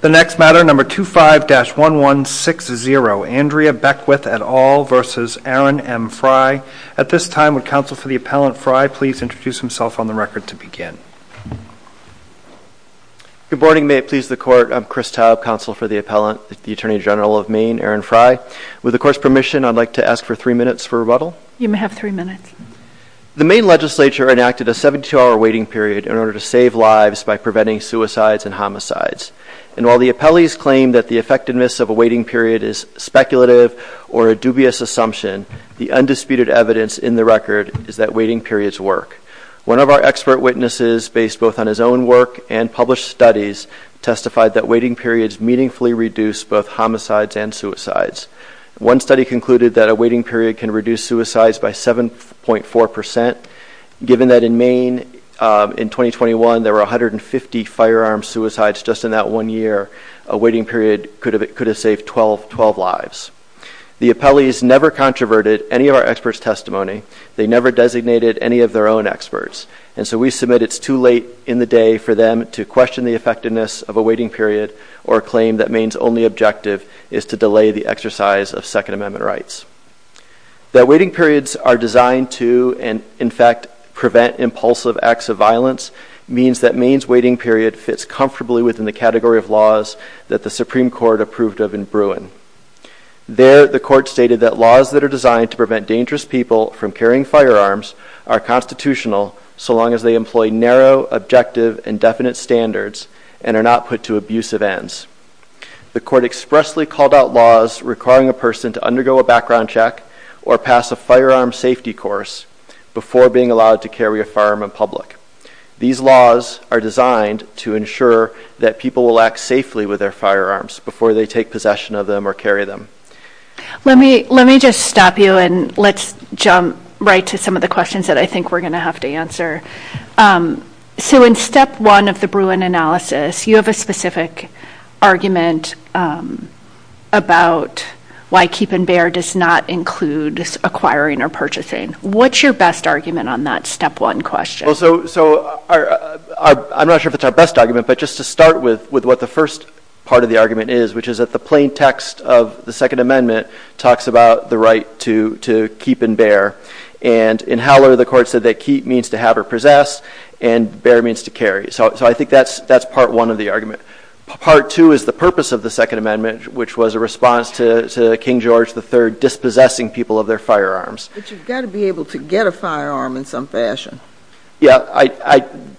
The next matter, number 25-1160, Andrea Beckwith et al. v. Aaron M. Frey. At this time, would counsel for the appellant Frey please introduce himself on the record to begin. Good morning, may it please the Court. I'm Chris Taub, counsel for the appellant, the Attorney General of Maine, Aaron Frey. With the Court's permission, I'd like to ask for three minutes for rebuttal. You may have three minutes. The Maine Legislature enacted a 72-hour waiting period in order to save lives by preventing suicides and homicides. And while the appellees claim that the effectiveness of a waiting period is speculative or a dubious assumption, the undisputed evidence in the record is that waiting periods work. One of our expert witnesses, based both on his own work and published studies, testified that waiting periods meaningfully reduce both homicides and suicides. One study concluded that a waiting period can reduce suicides by 7.4%, given that in Maine in 2021, there were 150 firearm suicides just in that one year. A waiting period could have saved 12 lives. The appellees never controverted any of our experts' testimony. They never designated any of their own experts. And so we submit it's too late in the day for them to question the effectiveness of a waiting period or claim that Maine's only objective is to delay the exercise of Second Amendment rights. That waiting periods are designed to, in fact, prevent impulsive acts of violence means that Maine's waiting period fits comfortably within the category of laws that the Supreme Court approved of in Bruin. There, the Court stated that laws that are designed to prevent dangerous people from carrying firearms are constitutional so long as they employ narrow, objective, and definite standards and are not put to abusive ends. The Court expressly called out laws requiring a person to undergo a background check or pass a firearm safety course before being allowed to carry a firearm in public. These laws are designed to ensure that people will act safely with their firearms before they take possession of them or carry them. Let me just stop you and let's jump right to some of the questions that I think we're going to have to answer. So in step one of the Bruin analysis, you have a specific argument about why keep and bear does not include acquiring or purchasing. What's your best argument on that step one question? So I'm not sure if it's our best argument, but just to start with what the first part of the argument is, which is that the plain text of the Second Amendment talks about the right to keep and bear. And in Howler, the Court said that keep means to have or possess and bear means to carry. So I think that's part one of the argument. Part two is the purpose of the Second Amendment, which was a response to King George III dispossessing people of their firearms. But you've got to be able to get a firearm in some fashion. Yeah,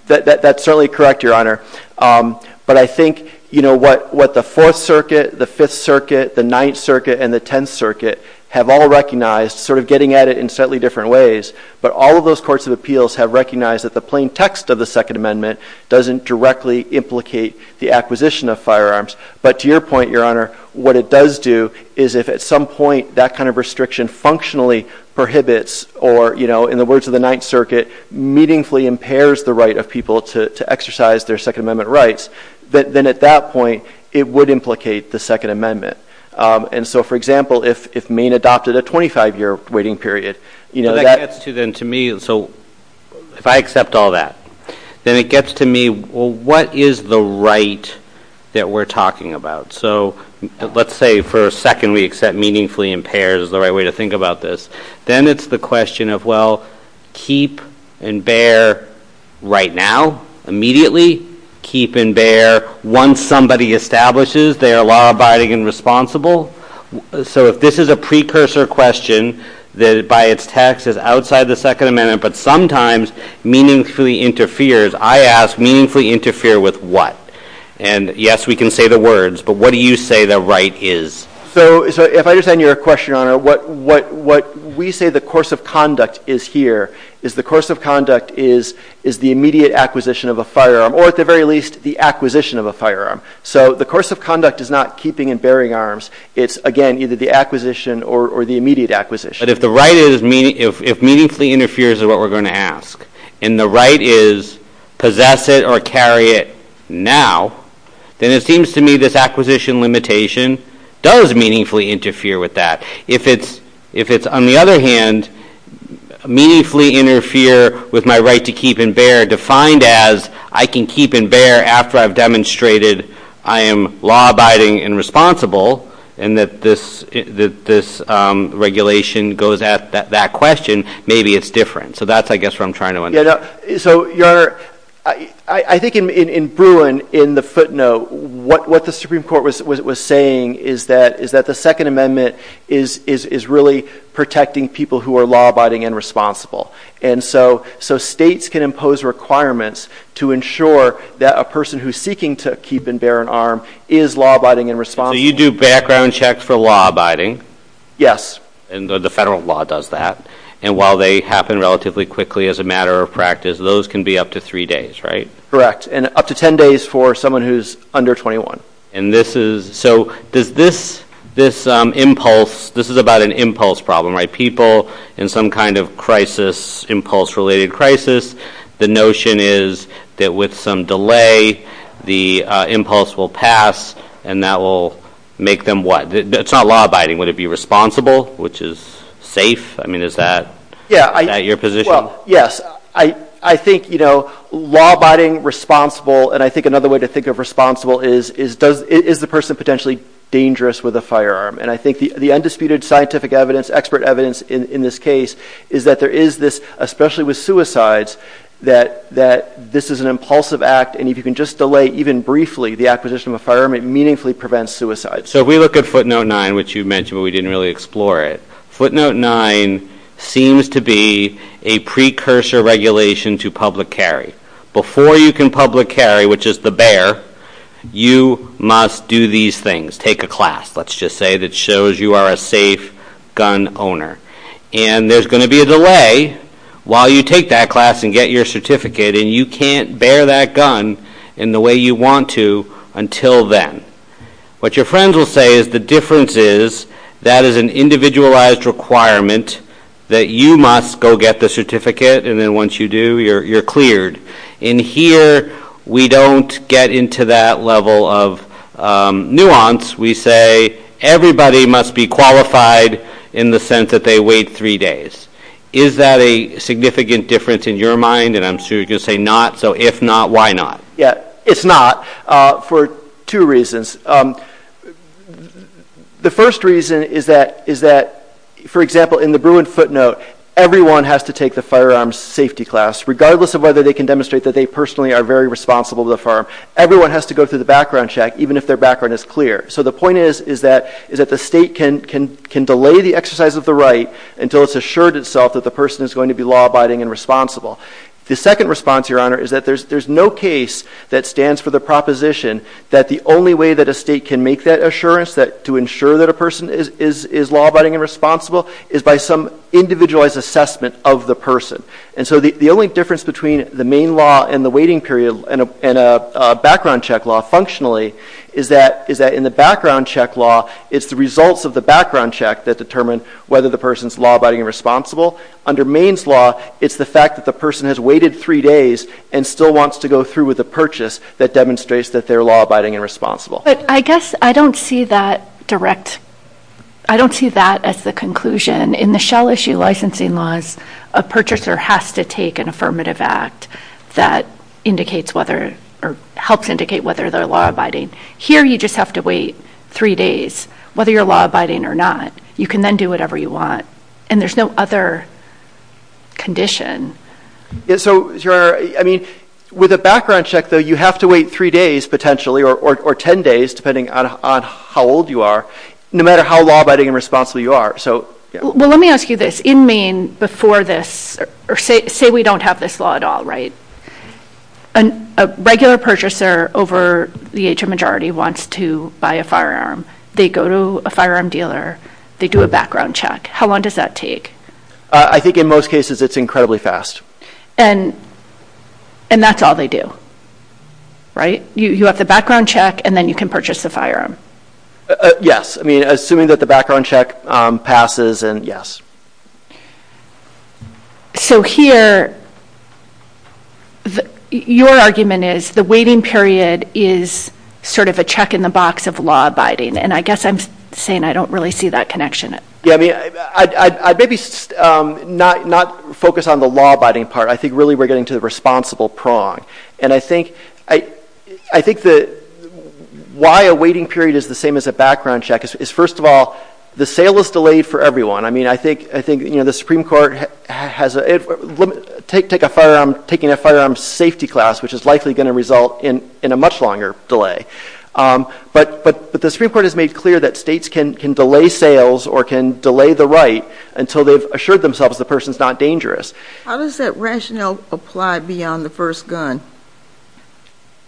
that's certainly correct, Your Honor. But I think what the Fourth Circuit, the Fifth Circuit, the Ninth Circuit, and the Tenth Circuit have all recognized, sort of getting at it in slightly different ways, but all of those courts of appeals have recognized that the plain text of the Second Amendment doesn't directly implicate the acquisition of firearms. But to your point, Your Honor, what it does do is if at some point that kind of restriction functionally prohibits, or in the words of the Ninth Circuit, meaningfully impairs the right of people to exercise their Second Amendment rights, then at that point it would implicate the Second Amendment. And so, for example, if Maine adopted a 25-year waiting period, you know, that gets to then to me. So if I accept all that, then it gets to me, well, what is the right that we're talking about? So let's say for a second we accept meaningfully impairs is the right way to think about this. Then it's the question of, well, keep and bear right now, immediately. Keep and bear once somebody establishes they are law-abiding and responsible. So if this is a precursor question that by its text is outside the Second Amendment, but sometimes meaningfully interferes, I ask meaningfully interfere with what? And yes, we can say the words, but what do you say the right is? So if I understand your question, Your Honor, what we say the course of conduct is here is the course of conduct is the immediate acquisition of a firearm, or at the very least the acquisition of a firearm. So the course of conduct is not keeping and bearing arms. It's, again, either the acquisition or the immediate acquisition. But if the right is, if meaningfully interferes is what we're going to ask, and the right is possess it or carry it now, then it seems to me this acquisition limitation does meaningfully interfere with that. If it's, on the other hand, meaningfully interfere with my right to keep and bear defined as I can keep and bear after I've demonstrated I am law-abiding and responsible, and that this regulation goes at that question, maybe it's different. So that's, I guess, what I'm trying to understand. So Your Honor, I think in Bruin, in the footnote, what the Supreme Court was saying is that the Second Amendment is really protecting people who are law-abiding and responsible. And so states can impose requirements to ensure that a person who's seeking to keep and bear an arm is law-abiding and responsible. So you do background checks for law-abiding? Yes. And the federal law does that. And while they happen relatively quickly as a matter of practice, those can be up to three days, right? Correct. And up to 10 days for someone who's under 21. And this is, so does this impulse, this is about an impulse problem, right? People in some kind of crisis, impulse-related crisis, the notion is that with some delay, the impulse will pass, and that will make them what? It's not law-abiding. Would it be responsible, which is safe? I mean, is that your position? Yes. I think law-abiding, responsible, and I think another way to think of responsible is, is the person potentially dangerous with a firearm? And I think the undisputed scientific evidence, expert evidence in this case, is that there is this, especially with suicides, that this is an impulsive act, and if you can just delay even briefly the acquisition of a firearm, it meaningfully prevents suicide. So we look at footnote nine, which you mentioned, but we didn't really explore it. Footnote nine seems to be a precursor regulation to public carry. Before you can public carry, which is the bear, you must do these things. Take a class, let's just say, that shows you are a safe gun owner, and there's going to be a delay while you take that class and get your certificate, and you can't bear that gun in the way you want to until then. What your friends will say is the difference is, that is an individualized requirement that you must go get the certificate, and then once you do, you're cleared. In here, we don't get into that level of nuance. We say everybody must be qualified in the sense that they wait three days. Is that a significant difference in your mind? And I'm sure you're going to say not, so if not, why not? Yeah, it's not for two reasons. The first reason is that, for example, in the Bruin footnote, everyone has to take the firearms safety class, regardless of whether they can demonstrate that they personally are very responsible to the firearm. Everyone has to go through the background check, even if their background is clear. So the point is that the state can delay the exercise of the right until it's assured itself that the person is going to be law-abiding and responsible. The second response, Your Honor, is that there's no case that stands for the proposition that the only way that a state can make that assurance, to ensure that a person is law-abiding and responsible, is by some individualized assessment of the person. And so the only difference between the Maine law and the background check law, functionally, is that in the background check law, it's the results of the background check that determine whether the person's law-abiding and responsible. Under Maine's law, it's the fact that the person has waited three days and still wants to go through with a purchase that demonstrates that they're law-abiding and responsible. But I guess I don't see that direct, I don't see that as the conclusion. In the Shell Issue licensing laws, a purchaser has to take an affirmative act that indicates whether, or helps indicate whether they're law-abiding. Here, you just have to wait three days, whether you're law-abiding or not. You can then do whatever you want. And there's no other condition. Yeah, so, Your Honor, I mean, with a background check, though, you have to wait three days, potentially, or ten days, depending on how old you are, no matter how law-abiding and responsible you are. So, yeah. Well, let me ask you this. In Maine, before this, say we don't have this law at all, right? A regular purchaser over the age of majority wants to buy a firearm. They go to a firearm dealer, they do a background check. How long does that take? I think in most cases, it's incredibly fast. And that's all they do, right? You have the background check, and then you can purchase the firearm. Yes. I mean, assuming that the background check passes, and yes. So here, your argument is the waiting period is sort of a check in the box of law-abiding. And I guess I'm saying I don't really see that connection. Yeah, I mean, I'd maybe not focus on the law-abiding part. I think, really, we're getting to the check is, first of all, the sale is delayed for everyone. I mean, I think the Supreme Court has a limit. Take a firearm, taking a firearm safety class, which is likely going to result in a much longer delay. But the Supreme Court has made clear that states can delay sales or can delay the right until they've assured themselves the person's not dangerous. How does that rationale apply beyond the first gun?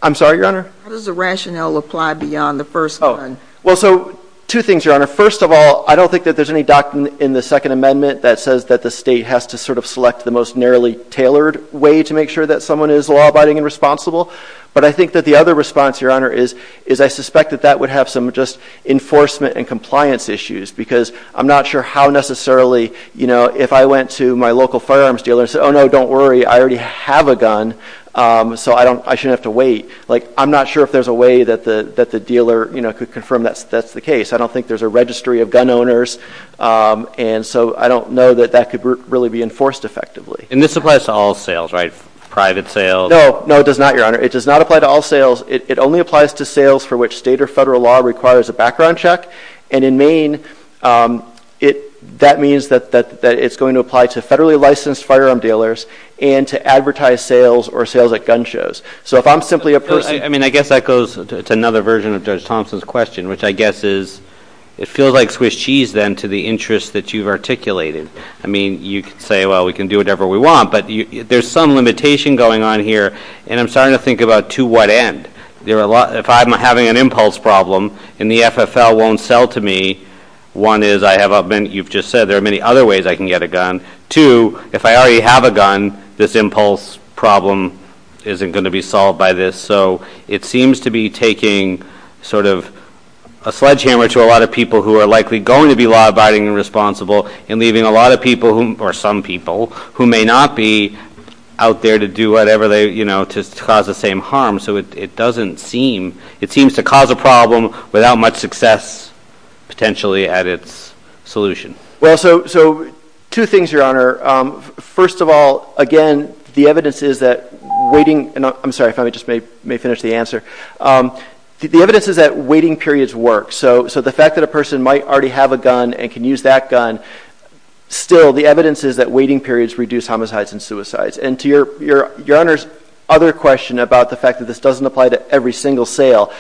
I'm sorry, Your Honor? How does the rationale apply beyond the first gun? Well, so two things, Your Honor. First of all, I don't think that there's any doctrine in the Second Amendment that says that the state has to sort of select the most narrowly tailored way to make sure that someone is law-abiding and responsible. But I think that the other response, Your Honor, is I suspect that that would have some just enforcement and compliance issues. Because I'm not sure how necessarily, you know, if I went to my local firearms dealer and said, oh, no, don't worry. I already have a gun. So I shouldn't have to wait. Like, I'm not sure if there's a way that the dealer, you know, could confirm that's the case. I don't think there's a registry of gun owners. And so I don't know that that could really be enforced effectively. And this applies to all sales, right? Private sales? No, no, it does not, Your Honor. It does not apply to all sales. It only applies to sales for which state or federal law requires a background check. And in Maine, that means that it's going to apply to federally licensed firearm dealers and to advertise sales or sales at gun shows. So if I'm simply a person... I mean, I guess that goes to another version of Judge Thompson's question, which I guess is it feels like Swiss cheese then to the interest that you've articulated. I mean, you could say, well, we can do whatever we want. But there's some limitation going on here. And I'm starting to think about to what end. If I'm having an impulse problem and the FFL won't sell to me, one is I have a... You've just said there are many other ways I can get a gun. Two, if I already have a gun, this impulse problem isn't going to be solved by this. So it seems to be taking sort of a sledgehammer to a lot of people who are likely going to be law-abiding and responsible and leaving a lot of people, or some people, who may not be out there to do whatever they... To cause the same harm. So it doesn't seem... It seems to cause a problem without much success potentially at its solution. Well, so two things, Your Honor. First of all, again, the evidence is that waiting... I'm sorry if I may just finish the answer. The evidence is that waiting periods work. So the fact that a person might already have a gun and can use that gun, still the evidence is that waiting periods reduce homicides and suicides. And to Your Honor's other question about the fact that this doesn't apply to every single sale,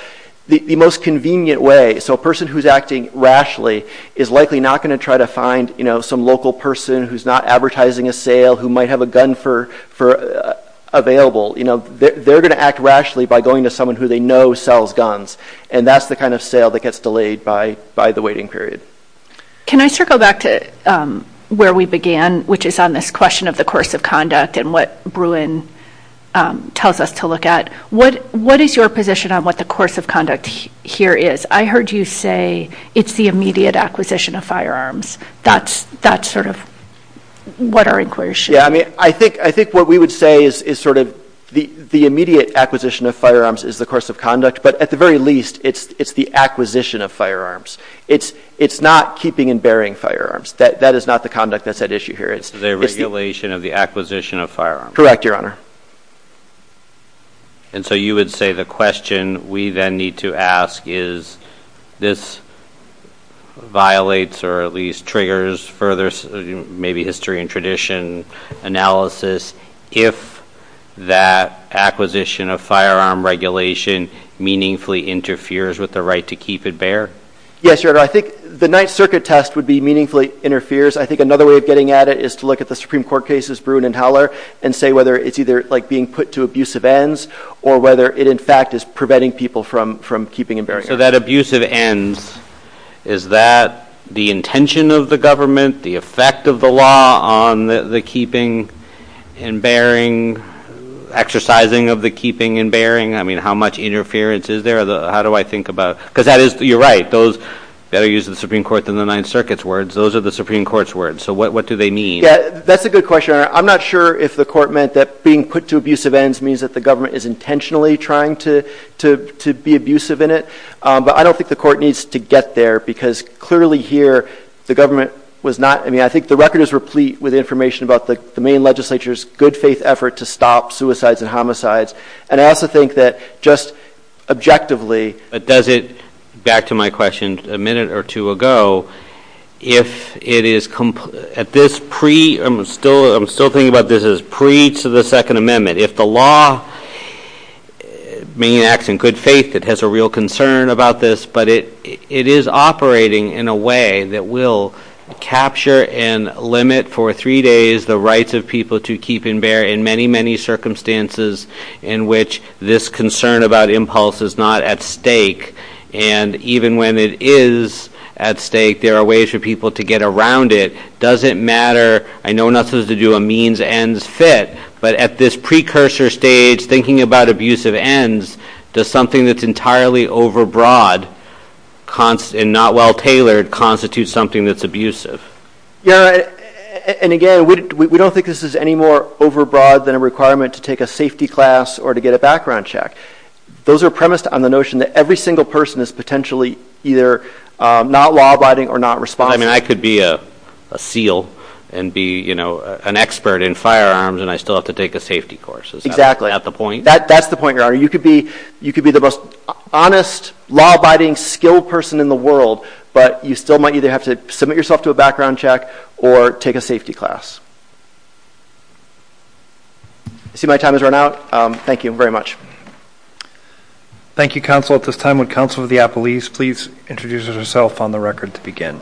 the most convenient way, so a person who's acting rashly is likely not going to try to find some local person who's not advertising a sale who might have a gun for available. They're going to act rashly by going to someone who they know sells guns. And that's the kind of sale that gets delayed by the waiting period. Can I circle back to where we began, which is on this question of the course of conduct and what Bruin tells us to look at? What is your position on what the course of conduct here is? I heard you say it's the immediate acquisition of firearms. That's sort of what our inquiry should... Yeah, I mean, I think what we would say is sort of the immediate acquisition of firearms is the course of conduct, but at the very least, it's the acquisition of firearms. It's not keeping and bearing firearms. That is not the conduct that's at issue here. It's the regulation of the acquisition of firearms. Correct, Your Honor. And so you would say the question we then need to ask is this violates or at least triggers further maybe history and tradition analysis if that acquisition of firearm regulation meaningfully interferes with the right to keep it bare? Yes, Your Honor. I think the Ninth Circuit test would be meaningfully interferes. I think another way of getting at it is to look at the Supreme Court cases, Bruin and Howler, and say whether it's either like being put to abusive ends or whether it in fact is preventing people from keeping and bearing. So that abusive ends, is that the intention of the government, the effect of the law on the keeping and bearing, exercising of the keeping and bearing? I mean, how much interference is there? How do I think about it? Because that is, you're right, those better use the Supreme Court than the Ninth Circuit's words. Those are the Supreme Court's words. So what do they mean? That's a good question, Your Honor. I'm not sure if the court meant that being put to abusive ends means that the government is intentionally trying to be abusive in it. But I don't think the court needs to get there because clearly here, the government was not, I mean, I think the record is replete with information about the main legislature's good faith effort to stop suicides and homicides. And I also think that just objectively... Back to my question a minute or two ago. I'm still thinking about this as pre to the Second Amendment. If the law may act in good faith, it has a real concern about this, but it is operating in a way that will capture and limit for three days the rights of people to keep and even when it is at stake, there are ways for people to get around it. Does it matter? I know not to do a means ends fit, but at this precursor stage, thinking about abusive ends, does something that's entirely overbroad and not well tailored constitute something that's abusive? Yeah. And again, we don't think this is any more overbroad than a requirement to take a safety class or to get a background check. Those are premised on the notion that every single person is potentially either not law-abiding or not responsible. I mean, I could be a SEAL and be an expert in firearms and I still have to take a safety course. Is that the point? That's the point, Your Honor. You could be the most honest, law-abiding, skilled person in the world, but you still might either have to submit yourself to a background check or take a safety class. I see my time has run out. Thank you very much. Thank you, Counsel. At this time, would Counsel of the Appellees please introduce herself on the record to begin?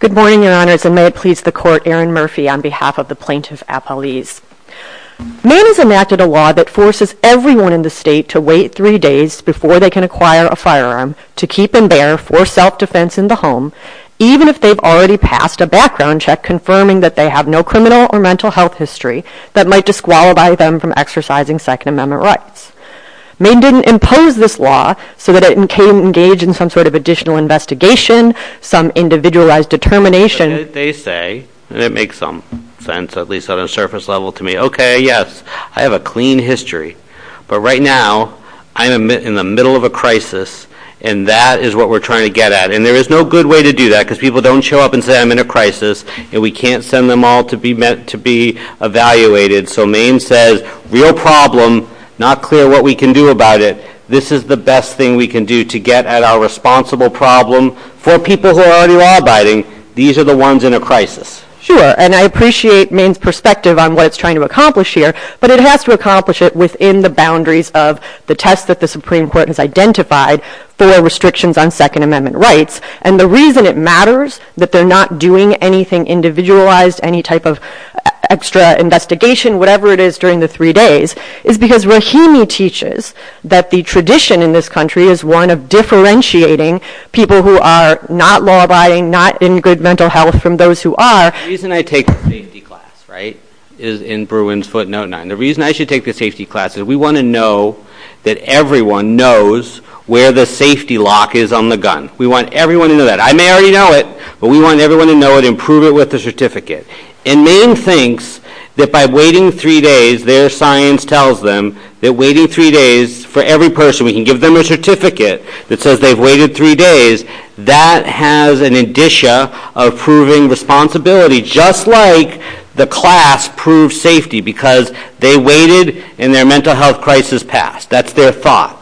Good morning, Your Honors, and may it please the Court, Erin Murphy on behalf of the Plaintiff Appellees. Maine has enacted a law that forces everyone in the state to wait three days before they can acquire a firearm to keep and bear for self-defense in the home, even if they've already passed a background check confirming that they have no criminal or mental health history that might disqualify them from exercising Second Amendment rights. Maine didn't impose this law so that it can engage in some sort of additional investigation, some individualized determination. They say, and it makes some sense at least on a surface level to me, okay, yes, I have a clean history, but right now I'm in the middle of a crisis, and that is what we're trying to get at, and there is no good way to do that because people don't show up and say, I'm in a crisis, and we can't send them all to be evaluated. So Maine says, real problem, not clear what we can do about it. This is the best thing we can do to get at our responsible problem for people who are already law-abiding. These are the ones in a crisis. Sure, and I appreciate Maine's perspective on what it's trying to accomplish here, but it has to accomplish it within the boundaries of the tests that the Supreme Court has identified for restrictions on Second Amendment rights, and the reason it matters that they're not doing anything individualized, any type of extra investigation, whatever it is during the three days, is because Rahimi teaches that the tradition in this country is one of differentiating people who are not law-abiding, not in good mental health from those who are. The reason I take the safety class, right, is in Bruin's footnote 9. The reason I should take the safety class is we want to know that everyone knows where the safety lock is on the gun. We want everyone to know that. I may already know it, but we want everyone to know it and prove it with the certificate, and Maine thinks that by waiting three days, their science tells them that waiting three days for every person, we can give them a certificate that says they've waited three days, that has an indicia of proving responsibility, just like the class proves safety because they waited and their mental health crisis passed. That's their thought.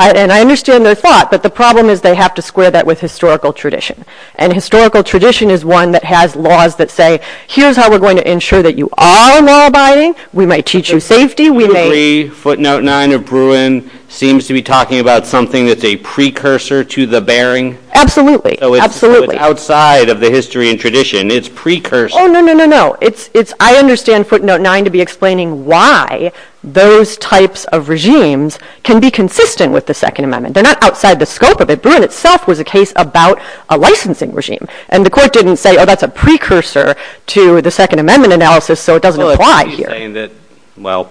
And I understand their thought, but the problem is they have to square that with historical tradition, and historical tradition is one that has laws that say, here's how we're going to ensure that you are law-abiding. We might teach you safety, we may... The footnote 9 of Bruin seems to be talking about something that's a precursor to the Bering. Absolutely, absolutely. So it's outside of the history and tradition. It's precursor. Oh, no, no, no, no, no. I understand footnote 9 to be explaining why those types of regimes can be consistent with the Second Amendment. They're not outside the scope of it. Bruin itself was a case about a licensing regime, and the court didn't say, oh, that's a precursor to the Second Amendment analysis, so it doesn't apply here. Well,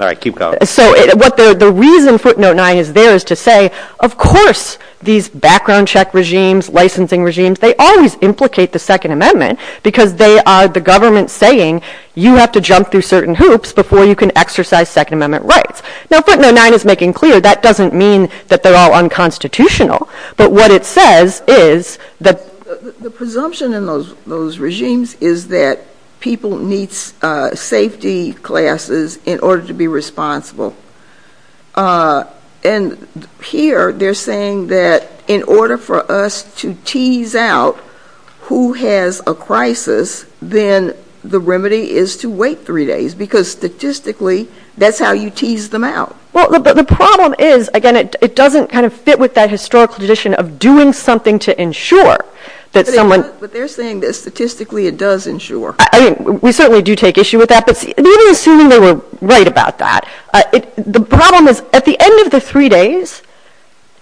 all right, keep going. So the reason footnote 9 is there is to say, of course, these background check regimes, licensing regimes, they always implicate the Second Amendment because they are the government saying you have to jump through certain hoops before you can exercise Second Amendment rights. Now footnote 9 is making clear that doesn't mean that they're all unconstitutional, but what it says is that... The presumption in those regimes is that people need safety classes in order to be responsible, and here they're saying that in order for us to tease out who has a crisis, then the remedy is to wait three days because statistically that's how you tease them out. Well, the problem is, again, it doesn't kind of fit with that historical tradition of doing something to ensure that someone... But they're saying that statistically it does ensure. We certainly do take issue with that, but even assuming they were right about that, the problem is at the end of the three days,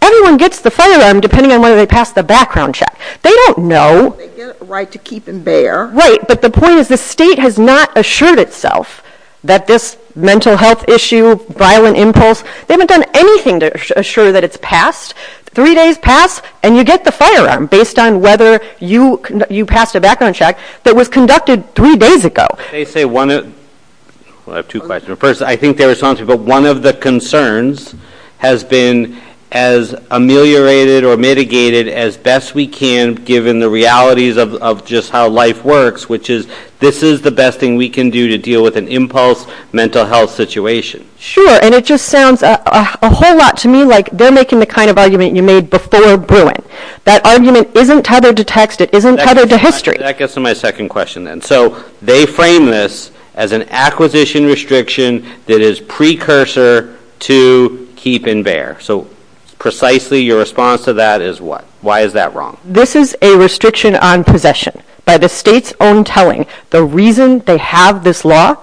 everyone gets the firearm depending on whether they pass the background check. They don't know. They get the right to keep and bear. Right, but the point is the state has not assured itself that this mental health issue, violent impulse, they haven't done anything to assure that it's passed. Three days pass and you get the firearm based on whether you passed a background check that was conducted three days ago. They say one... Well, I have two questions. First, I think they're responsive, but one of the concerns has been as ameliorated or mitigated as best we can given the realities of just how life works, which is this is the best thing we can do to deal with an impulse mental health situation. Sure, and it just sounds a whole lot to me like they're making the kind of argument you made before Bruin. That argument isn't tethered to text. It isn't tethered to history. That gets to my second question then. So they frame this as an acquisition restriction that is precursor to keep and bear. So precisely your response to that is what? Why is that wrong? This is a restriction on possession by the state's own telling. The reason they have this law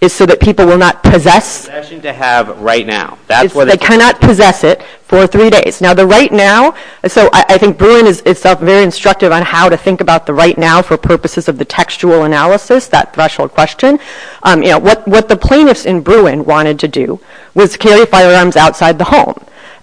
is so that people will not possess... Possession to have right now. That's what... Cannot possess it for three days. Now the right now... So I think Bruin is itself very instructive on how to think about the right now for purposes of the textual analysis, that threshold question. What the plaintiffs in Bruin wanted to do was carry firearms outside the home.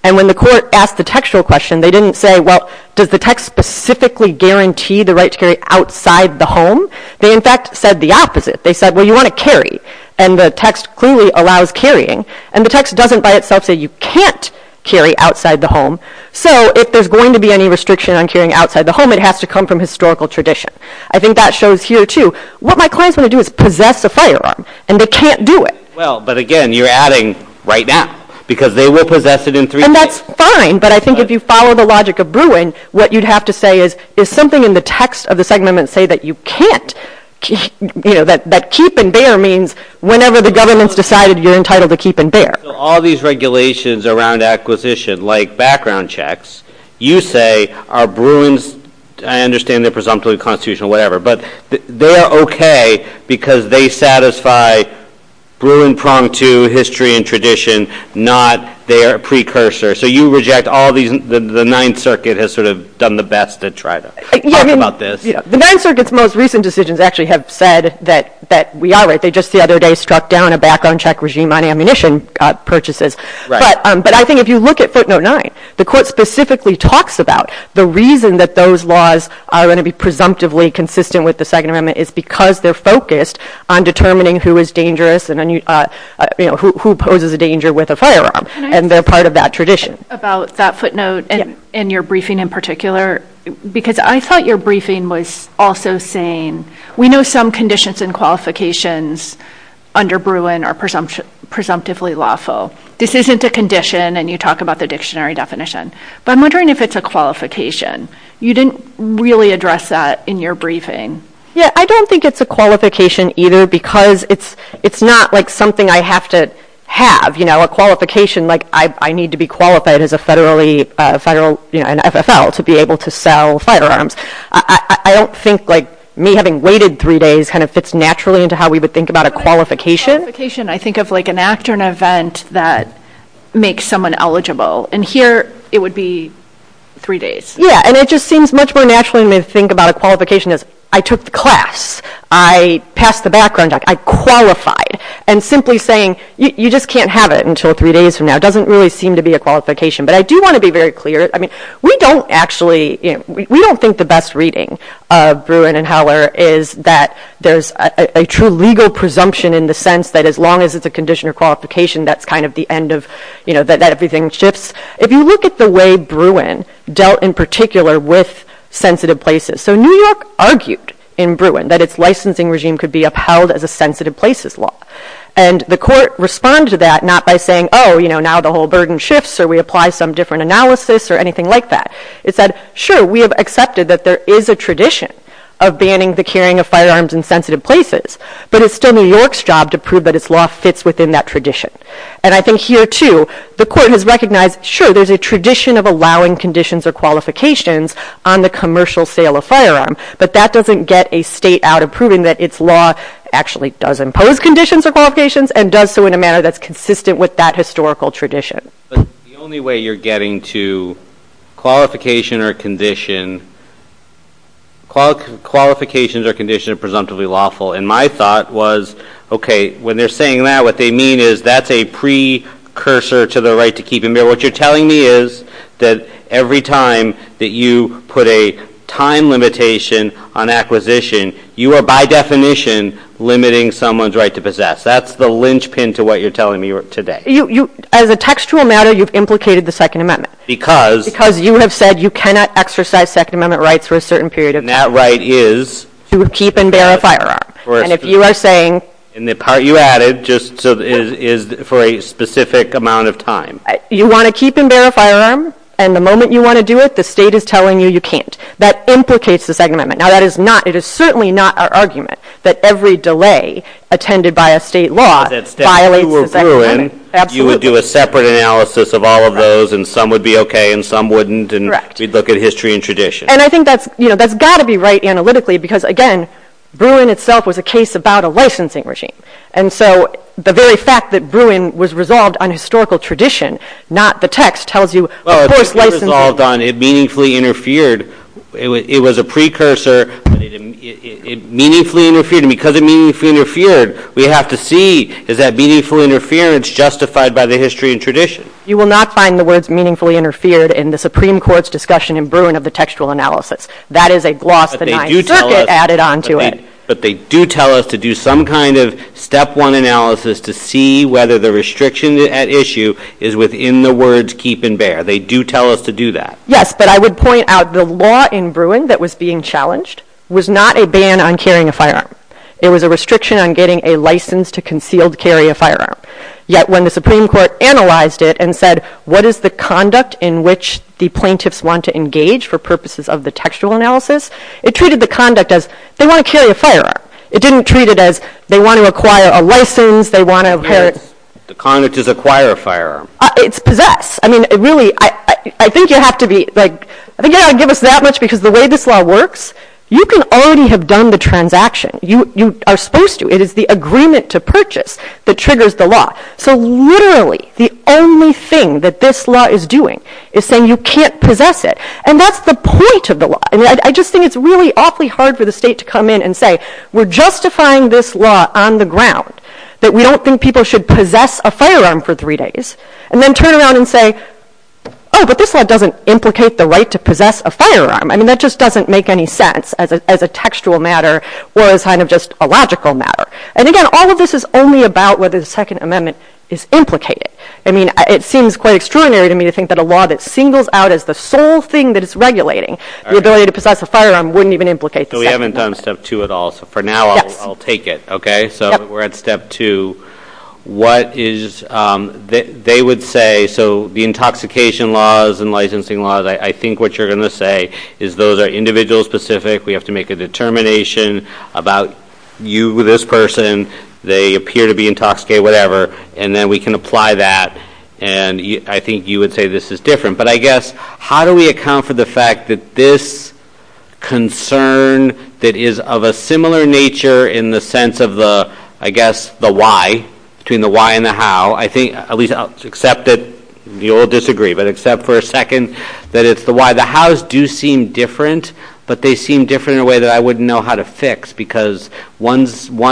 And when the court asked the textual question, they didn't say, well, does the text specifically guarantee the right to carry outside the home? They in fact said the opposite. They said, well, you want to carry. And the text clearly allows carrying. And the text doesn't by itself say you can't carry outside the home. So if there's going to be any restriction on carrying outside the home, it has to come from historical tradition. I think that shows here too, what my clients want to do is possess a firearm, and they can't do it. Well, but again, you're adding right now, because they will possess it in three days. And that's fine. But I think if you follow the logic of Bruin, what you'd have to say is, is something in the text of the Second Amendment say that you can't, you know, that keep and bear means whenever the government's decided, you're entitled to keep and bear. All these regulations around acquisition, like background checks, you say, are Bruins, I understand they're presumptively constitutional or whatever, but they are okay because they satisfy Bruin prong to history and tradition, not their precursor. So you reject all these, the Ninth Circuit has sort of done the best to try to talk about this. The Ninth Circuit's most recent decisions actually have said that we are right. They just the other day struck down a background check regime on ammunition purchases. But I think if you look at footnote nine, the court specifically talks about the reason that those laws are going to be presumptively consistent with the Second Amendment is because they're focused on determining who is dangerous and who poses a danger with a firearm. And they're part of that tradition. About that footnote and your briefing in particular, because I thought your briefing was also saying, we know some conditions and qualifications under Bruin are presumptively lawful. This isn't a condition and you talk about the dictionary definition, but I'm wondering if it's a qualification. You didn't really address that in your briefing. Yeah, I don't think it's a qualification either because it's not like something I have to have, you know, a qualification, like I need to be qualified as a federally, you know, an FFL to be able to sell firearms. I don't think like me having waited three days kind of fits naturally into how we would think about a qualification. I think of like an act or an event that makes someone eligible and here it would be three days. Yeah, and it just seems much more naturally to me to think about a qualification as I took the class, I passed the background check, I qualified and simply saying you just can't have it until three days from now doesn't really seem to be a qualification. But I do want to be very clear, I mean, we don't actually, you know, we don't think the best reading of Bruin and Heller is that there's a true legal presumption in the sense that as long as it's a condition or qualification, that's kind of the end of, you know, that everything shifts. If you look at the way Bruin dealt in particular with sensitive places, so New York argued in Bruin that its licensing regime could be upheld as a sensitive places law. And the court responded to that not by saying, oh, you know, the whole burden shifts or we apply some different analysis or anything like that. It said, sure, we have accepted that there is a tradition of banning the carrying of firearms in sensitive places, but it's still New York's job to prove that its law fits within that tradition. And I think here too, the court has recognized, sure, there's a tradition of allowing conditions or qualifications on the commercial sale of firearm, but that doesn't get a state out of proving that its law actually does impose conditions or qualifications and does so in a manner that's consistent with that historical tradition. But the only way you're getting to qualification or condition, qualifications or conditions are presumptively lawful. And my thought was, okay, when they're saying that, what they mean is that's a pre-cursor to the right to keep and bear. What you're telling me is that every time that you put a time limitation on acquisition, you are by definition limiting someone's right to possess. That's the linchpin to what you're telling me today. As a textual matter, you've implicated the Second Amendment. Because? Because you have said you cannot exercise Second Amendment rights for a certain period of time. And that right is? To keep and bear a firearm. And if you are saying... And the part you added just is for a specific amount of time. You want to keep and bear a firearm, and the moment you want to do it, the state is telling you you can't. That implicates the Second Amendment. Now, that is not, it is certainly not our argument that every delay attended by a state law violates the Second Amendment. You would do a separate analysis of all of those, and some would be okay, and some wouldn't, and we'd look at history and tradition. And I think that's got to be right analytically, because again, Bruin itself was a case about a licensing regime. And so the very fact that Bruin was resolved on historical tradition, not the text, tells you, of course licensing... It was resolved on, it meaningfully interfered. It was a pre-cursor. It meaningfully interfered. And because it meaningfully interfered, we have to see, is that meaningful interference justified by the history and tradition? You will not find the words meaningfully interfered in the Supreme Court's discussion in Bruin of the textual analysis. That is a gloss the Ninth Circuit added onto it. But they do tell us to do some kind of step one analysis to see whether the restriction at issue is within the words keep and bear. They do tell us to do that. Yes, but I would point out the law in Bruin that was being challenged was not a ban on carrying a firearm. It was a restriction on getting a license to concealed carry a firearm. Yet when the Supreme Court analyzed it and said, what is the conduct in which the plaintiffs want to engage for purposes of the textual analysis, it treated the conduct as, they want to carry a firearm. It didn't treat it as, they want to acquire a license, they want to inherit... The conduct is acquire a firearm. It's possess. I mean, it really, I think you have to be, like, I think you don't have to give us that much because the way this law works, you can already have done the transaction. You are supposed to. It is the agreement to purchase that triggers the law. So literally, the only thing that this law is doing is saying you can't possess it. And that's the point of the law. And I just think it's really awfully hard for the state to come in and say, we're justifying this law on the ground, that we don't think people should possess a firearm for three days, and then turn around and say, oh, but this law doesn't implicate the right to possess a firearm. I mean, that just doesn't make any sense as a textual matter or as kind of just a logical matter. And again, all of this is only about whether the Second Amendment is implicated. I mean, it seems quite extraordinary to me to think that a law that singles out as the sole thing that is regulating the ability to possess a firearm wouldn't even implicate the Second Amendment. So we haven't done step two at all. So for now, I'll take it. Okay. So we're at step two. What is, they would say, so the intoxication laws and licensing laws, I think what you're going to say is those are individual specific. We have to make a determination about you, this person, they appear to be intoxicated, And then we can apply that. And I think you would say this is different. But I guess, how do we account for the fact that this concern that is of a similar nature in the sense of the, I guess, the why, between the why and the how, I think, at least I'll accept that you all disagree, but except for a second, that it's the why. The hows do seem different, but they seem different in a way that I wouldn't know how to fix, because one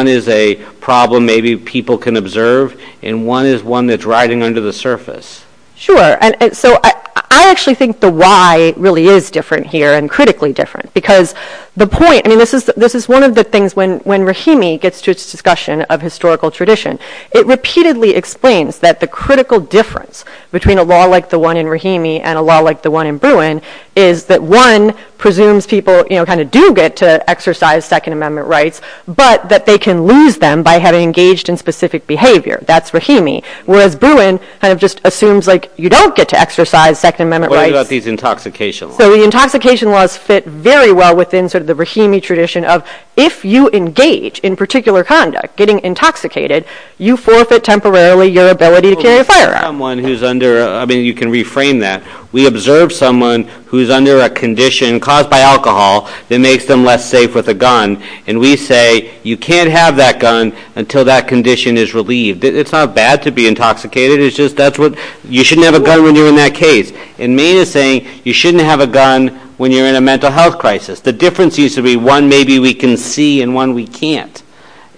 is a problem maybe people can observe, and one is one that's riding under the surface. And so I actually think the why really is different here and critically different, because the point, I mean, this is one of the things when Rahimi gets to its discussion of historical tradition, it repeatedly explains that the critical difference between a law like the one in Rahimi and a law like the one in Bruin is that one presumes people kind of do get to exercise Second Amendment rights, but that they can lose them by having engaged in specific behavior. That's Rahimi, whereas Bruin kind of just assumes like you don't get to exercise Second Amendment rights. What about these intoxication laws? So the intoxication laws fit very well within sort of the Rahimi tradition of if you engage in particular conduct, getting intoxicated, you forfeit temporarily your ability to carry a firearm. Someone who's under, I mean, you can reframe that. We observe someone who's under a condition caused by alcohol that makes them less safe with a gun, and we say you can't have that gun until that condition is relieved. It's not bad to be intoxicated, it's just that's what, you shouldn't have a gun when you're in that case. And Maine is saying you shouldn't have a gun when you're in a mental health crisis. The difference used to be one maybe we can see and one we can't.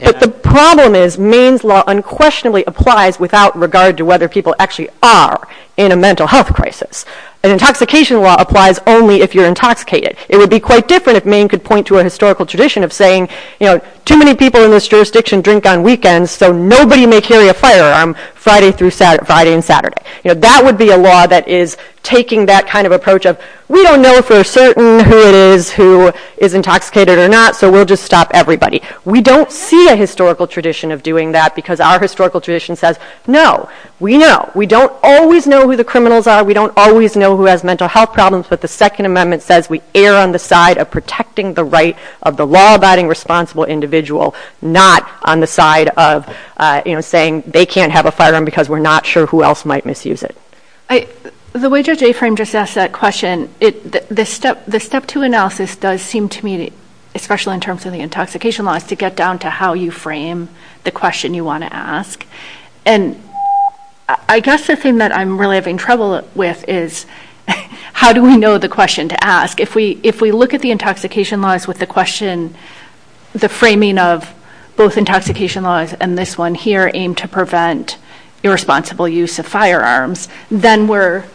But the problem is Maine's law unquestionably applies without regard to whether people actually are in a mental health crisis. An intoxication law applies only if you're intoxicated. It would be quite different if Maine could point to a historical tradition of saying, you know, too many people in this jurisdiction drink on weekends, so nobody may carry a firearm Friday through Friday and Saturday. You know, that would be a law that is taking that kind of approach of we don't know for certain who it is who is intoxicated or not, so we'll just stop everybody. We don't see a historical tradition of doing that because our historical tradition says, no, we know. We don't always know who the criminals are, we don't always know who has mental health problems, but the Second Amendment says we err on the side of protecting the right of the law-abiding responsible individual, not on the side of, you know, saying they can't have a firearm because we're not sure who else might misuse it. The way Judge Aframe just asked that question, the step two analysis does seem to me, especially in terms of the intoxication laws, to get down to how you frame the question you want to ask. And I guess the thing that I'm really having trouble with is how do we know the question to ask? If we look at the intoxication laws with the question, the framing of both intoxication laws and this one here aimed to prevent irresponsible use of firearms, then we're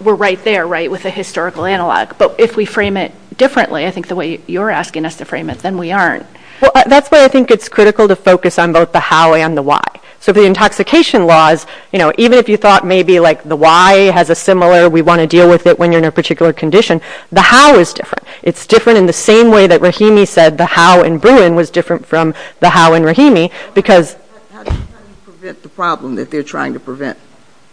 right there, right with a historical analog. But if we frame it differently, I think the way you're asking us to frame it, then we aren't. Well, that's why I think it's critical to focus on both the how and the why. So the intoxication laws, you know, even if you thought maybe like the why has a similar, we want to deal with it when you're in a particular condition, the how is different. It's different in the same way that Rahimi said the how in Bruin was different from the how in Rahimi because... How do you prevent the problem that they're trying to prevent?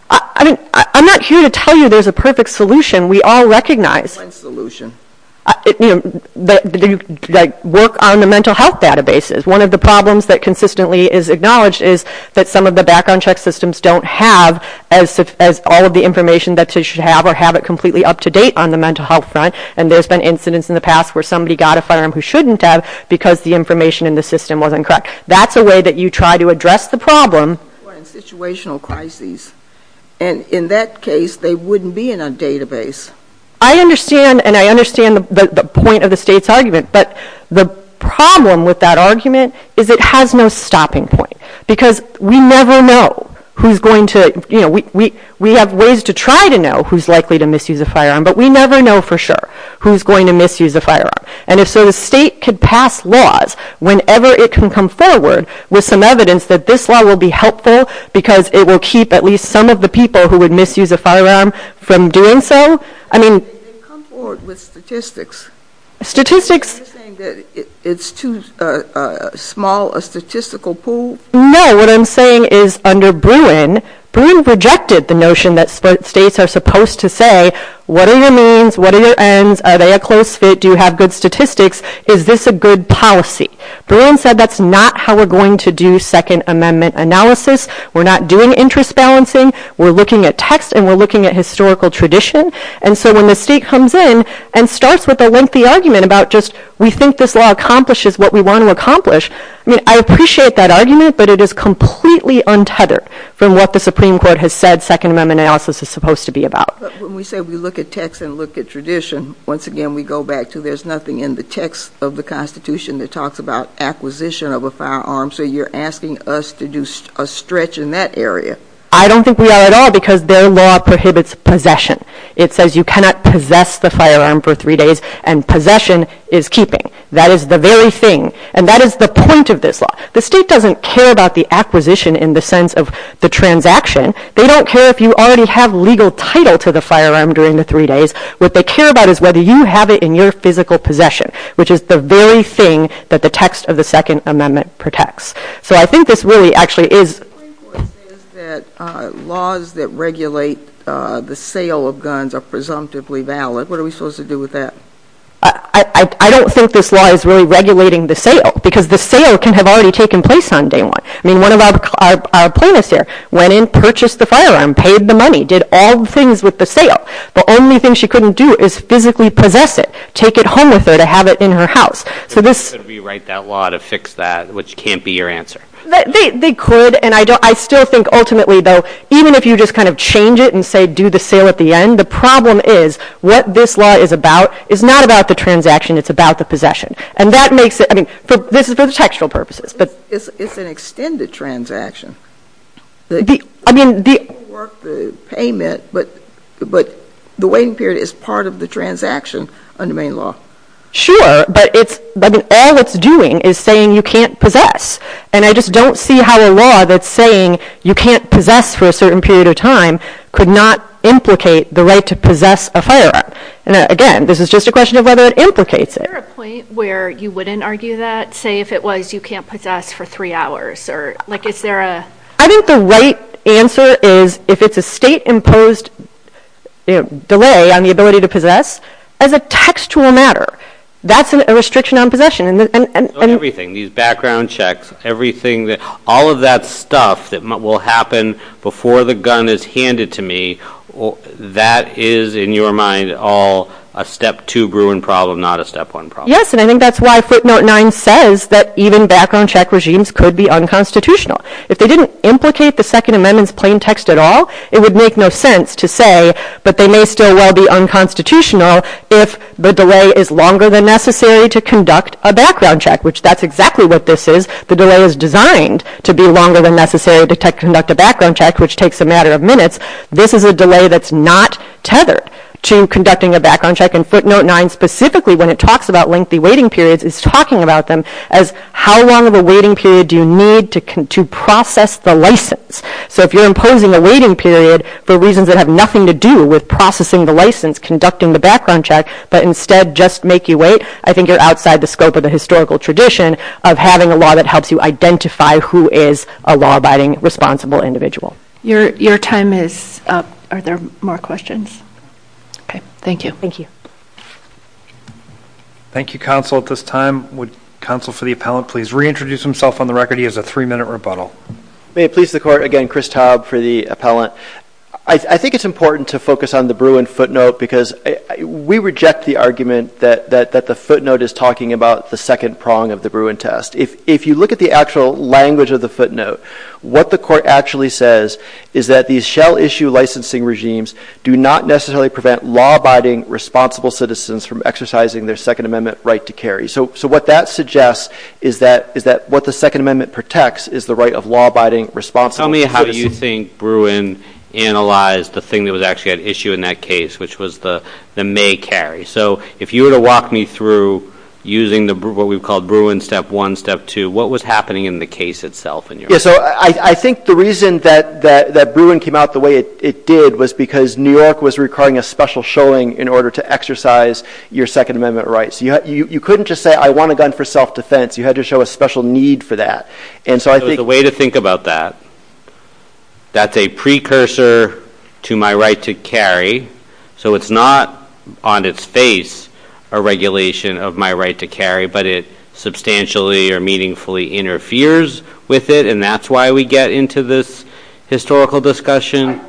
I mean, I'm not here to tell you there's a perfect solution. We all recognize... What solution? You know, like work on the mental health databases. One of the problems that consistently is acknowledged is that some of the background check systems don't have as all of the information that they should have or have it completely up to date on the mental health front. And there's been incidents in the past where somebody got a firearm who shouldn't have because the information in the system was incorrect. That's a way that you try to address the problem. In situational crises. And in that case, they wouldn't be in a database. I understand. And I understand the point of the state's argument. But the problem with that argument is it has no stopping point because we never know who's going to, you know, we have ways to try to know who's likely to misuse a firearm, but we never know for sure who's going to misuse a firearm. And if so, the state could pass laws whenever it can come forward with some evidence that this law will be helpful because it will keep at least some of the people who would misuse a firearm from doing so. I mean, statistics, it's too small a statistical pool. No, what I'm saying is under Bruin, Bruin rejected the notion that states are supposed to say, what are your means? What are your ends? Are they a close fit? Do you have good statistics? Is this a good policy? Bruin said that's not how we're going to do Second Amendment analysis. We're not doing interest balancing. We're looking at text and we're looking at historical tradition. And so when the state comes in and starts with a lengthy argument about just we think this law accomplishes what we want to accomplish, I mean, I appreciate that argument, but it is completely untethered from what the Supreme Court has said Second Amendment analysis is supposed to be about. When we say we look at text and look at tradition, once again, we go back to there's nothing in the text of the Constitution that talks about acquisition of a firearm. So you're asking us to do a stretch in that area. I don't think we are at all because their law prohibits possession. It says you cannot possess the firearm for three days and possession is keeping. That is the very thing. And that is the point of this law. The state doesn't care about the acquisition in the sense of the transaction. They don't care if you already have legal title to the firearm during the three days. What they care about is whether you have it in your physical possession, which is the very thing that the text of the Second Amendment protects. So I think this really actually is... The Supreme Court says that laws that regulate the sale of guns are presumptively valid. What are we supposed to do with that? I don't think this law is really regulating the sale because the sale can have already taken place on day one. I mean, one of our plaintiffs here went in, purchased the firearm, paid the money, did all the things with the sale. The only thing she couldn't do is physically possess it, take it home with her to have it in her house. So this... They could rewrite that law to fix that, which can't be your answer. They could, and I still think ultimately, though, even if you just kind of change it and say do the sale at the end, the problem is what this law is about is not about the transaction. It's about the possession. And that makes it... I mean, this is for the textual purposes, but... It's an extended transaction. The... I mean, the... It won't work the payment, but the waiting period is part of the transaction under main law. Sure, but all it's doing is saying you can't possess. And I just don't see how a law that's saying you can't possess for a certain period of time could not implicate the right to possess a firearm. And again, this is just a question of whether it implicates it. Is there a point where you wouldn't argue that? Say if it was you can't possess for three hours or... Like, is there a... I think the right answer is if it's a state-imposed delay on the ability to possess, as a textual matter, that's a restriction on possession. And everything, these background checks, everything that... All of that stuff that will happen before the gun is handed to me, that is in your mind all a step two Bruin problem, not a step one problem. Yes, and I think that's why footnote nine says that even background check regimes could be unconstitutional. If they didn't implicate the Second Amendment's plain text at all, it would make no sense to say, but they may still well be unconstitutional if the delay is longer than necessary to conduct a background check, which that's exactly what this is. The delay is designed to be longer than necessary to conduct a background check, which takes a matter of minutes. This is a delay that's not tethered to conducting a background check. And footnote nine specifically, when it talks about lengthy waiting periods, is talking about them as how long of a waiting period do you need to process the license? So if you're imposing a waiting period for reasons that have nothing to do with processing the license, conducting the background check, but instead just make you wait, I think you're outside the scope of the historical tradition of having a law that helps you identify who is a law-abiding, responsible individual. Your time is up. Are there more questions? Okay. Thank you. Thank you, Counsel. At this time, would Counsel for the Appellant please reintroduce himself on the record? He has a three-minute rebuttal. May it please the Court, again, Chris Taub for the Appellant. I think it's important to focus on the Bruin footnote because we reject the argument that the footnote is talking about the second prong of the Bruin test. If you look at the actual language of the footnote, what the Court actually says is that these shell-issue licensing regimes do not necessarily prevent law-abiding, responsible citizens from exercising their Second Amendment right to carry. So what that suggests is that what the Second Amendment protects is the right of law-abiding, Tell me how you think Bruin analyzed the thing that was actually at issue in that case, which was the may carry. So if you were to walk me through using what we've called Bruin step one, step two, what was happening in the case itself in your mind? I think the reason that Bruin came out the way it did was because New York was requiring a special showing in order to exercise your Second Amendment rights. You couldn't just say I want a gun for self-defense, you had to show a special need for that. The way to think about that, that's a precursor to my right to carry, so it's not on its face a regulation of my right to carry, but it substantially or meaningfully interferes with it, and that's why we get into this historical discussion.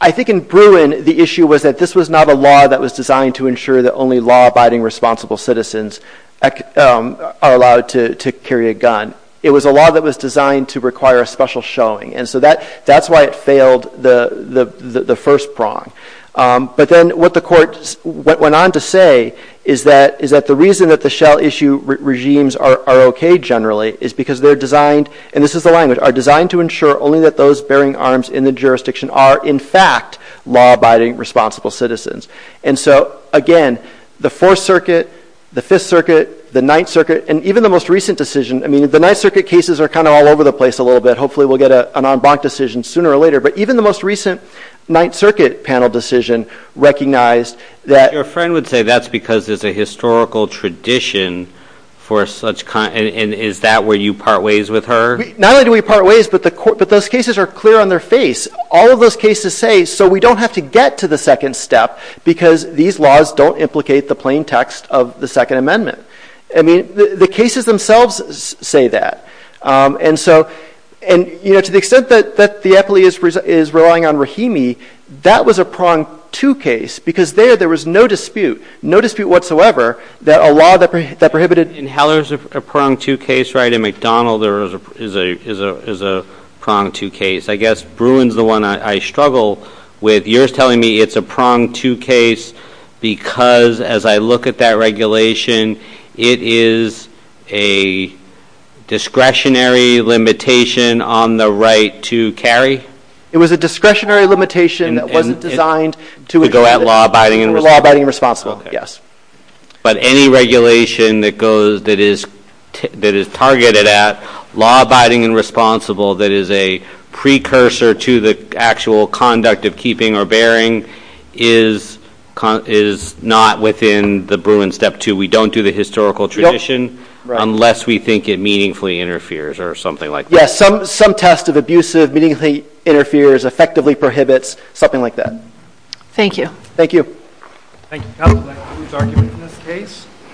I think in Bruin the issue was that this was not a law that was designed to ensure that only law-abiding, responsible citizens are allowed to carry a gun. It was a law that was designed to require a special showing, and so that's why it failed the first prong. But then what the court went on to say is that the reason that the shell-issue regimes are okay generally is because they're designed, and this is the language, are designed to ensure only that those bearing arms in the jurisdiction are in fact law-abiding, responsible citizens. And so, again, the Fourth Circuit, the Fifth Circuit, the Ninth Circuit, and even the most recent decision, I mean, the Ninth Circuit cases are kind of all over the place a little bit, hopefully we'll get an en banc decision sooner or later, but even the most recent Ninth Circuit panel decision recognized that... Your friend would say that's because there's a historical tradition for such, and is that where you part ways with her? Not only do we part ways, but those cases are clear on their face. All of those cases say, so we don't have to get to the second step because these laws don't implicate the plain text of the Second Amendment. I mean, the cases themselves say that. And so, and, you know, to the extent that the EPLI is relying on Rahimi, that was a there's no dispute, no dispute whatsoever that a law that prohibited... In Heller's, a prong two case, right, in McDonald there is a prong two case. I guess Bruin's the one I struggle with. You're telling me it's a prong two case because as I look at that regulation, it is a discretionary limitation on the right to carry? It was a discretionary limitation that wasn't designed to... That law abiding and... Law abiding and responsible, yes. But any regulation that goes, that is targeted at law abiding and responsible that is a precursor to the actual conduct of keeping or bearing is not within the Bruin step two. We don't do the historical tradition unless we think it meaningfully interferes or something like that. Yes, some test of abusive, meaningfully interferes, effectively prohibits, something like that. Thank you. Thank you. Thank you. I would like to move the argument in this case.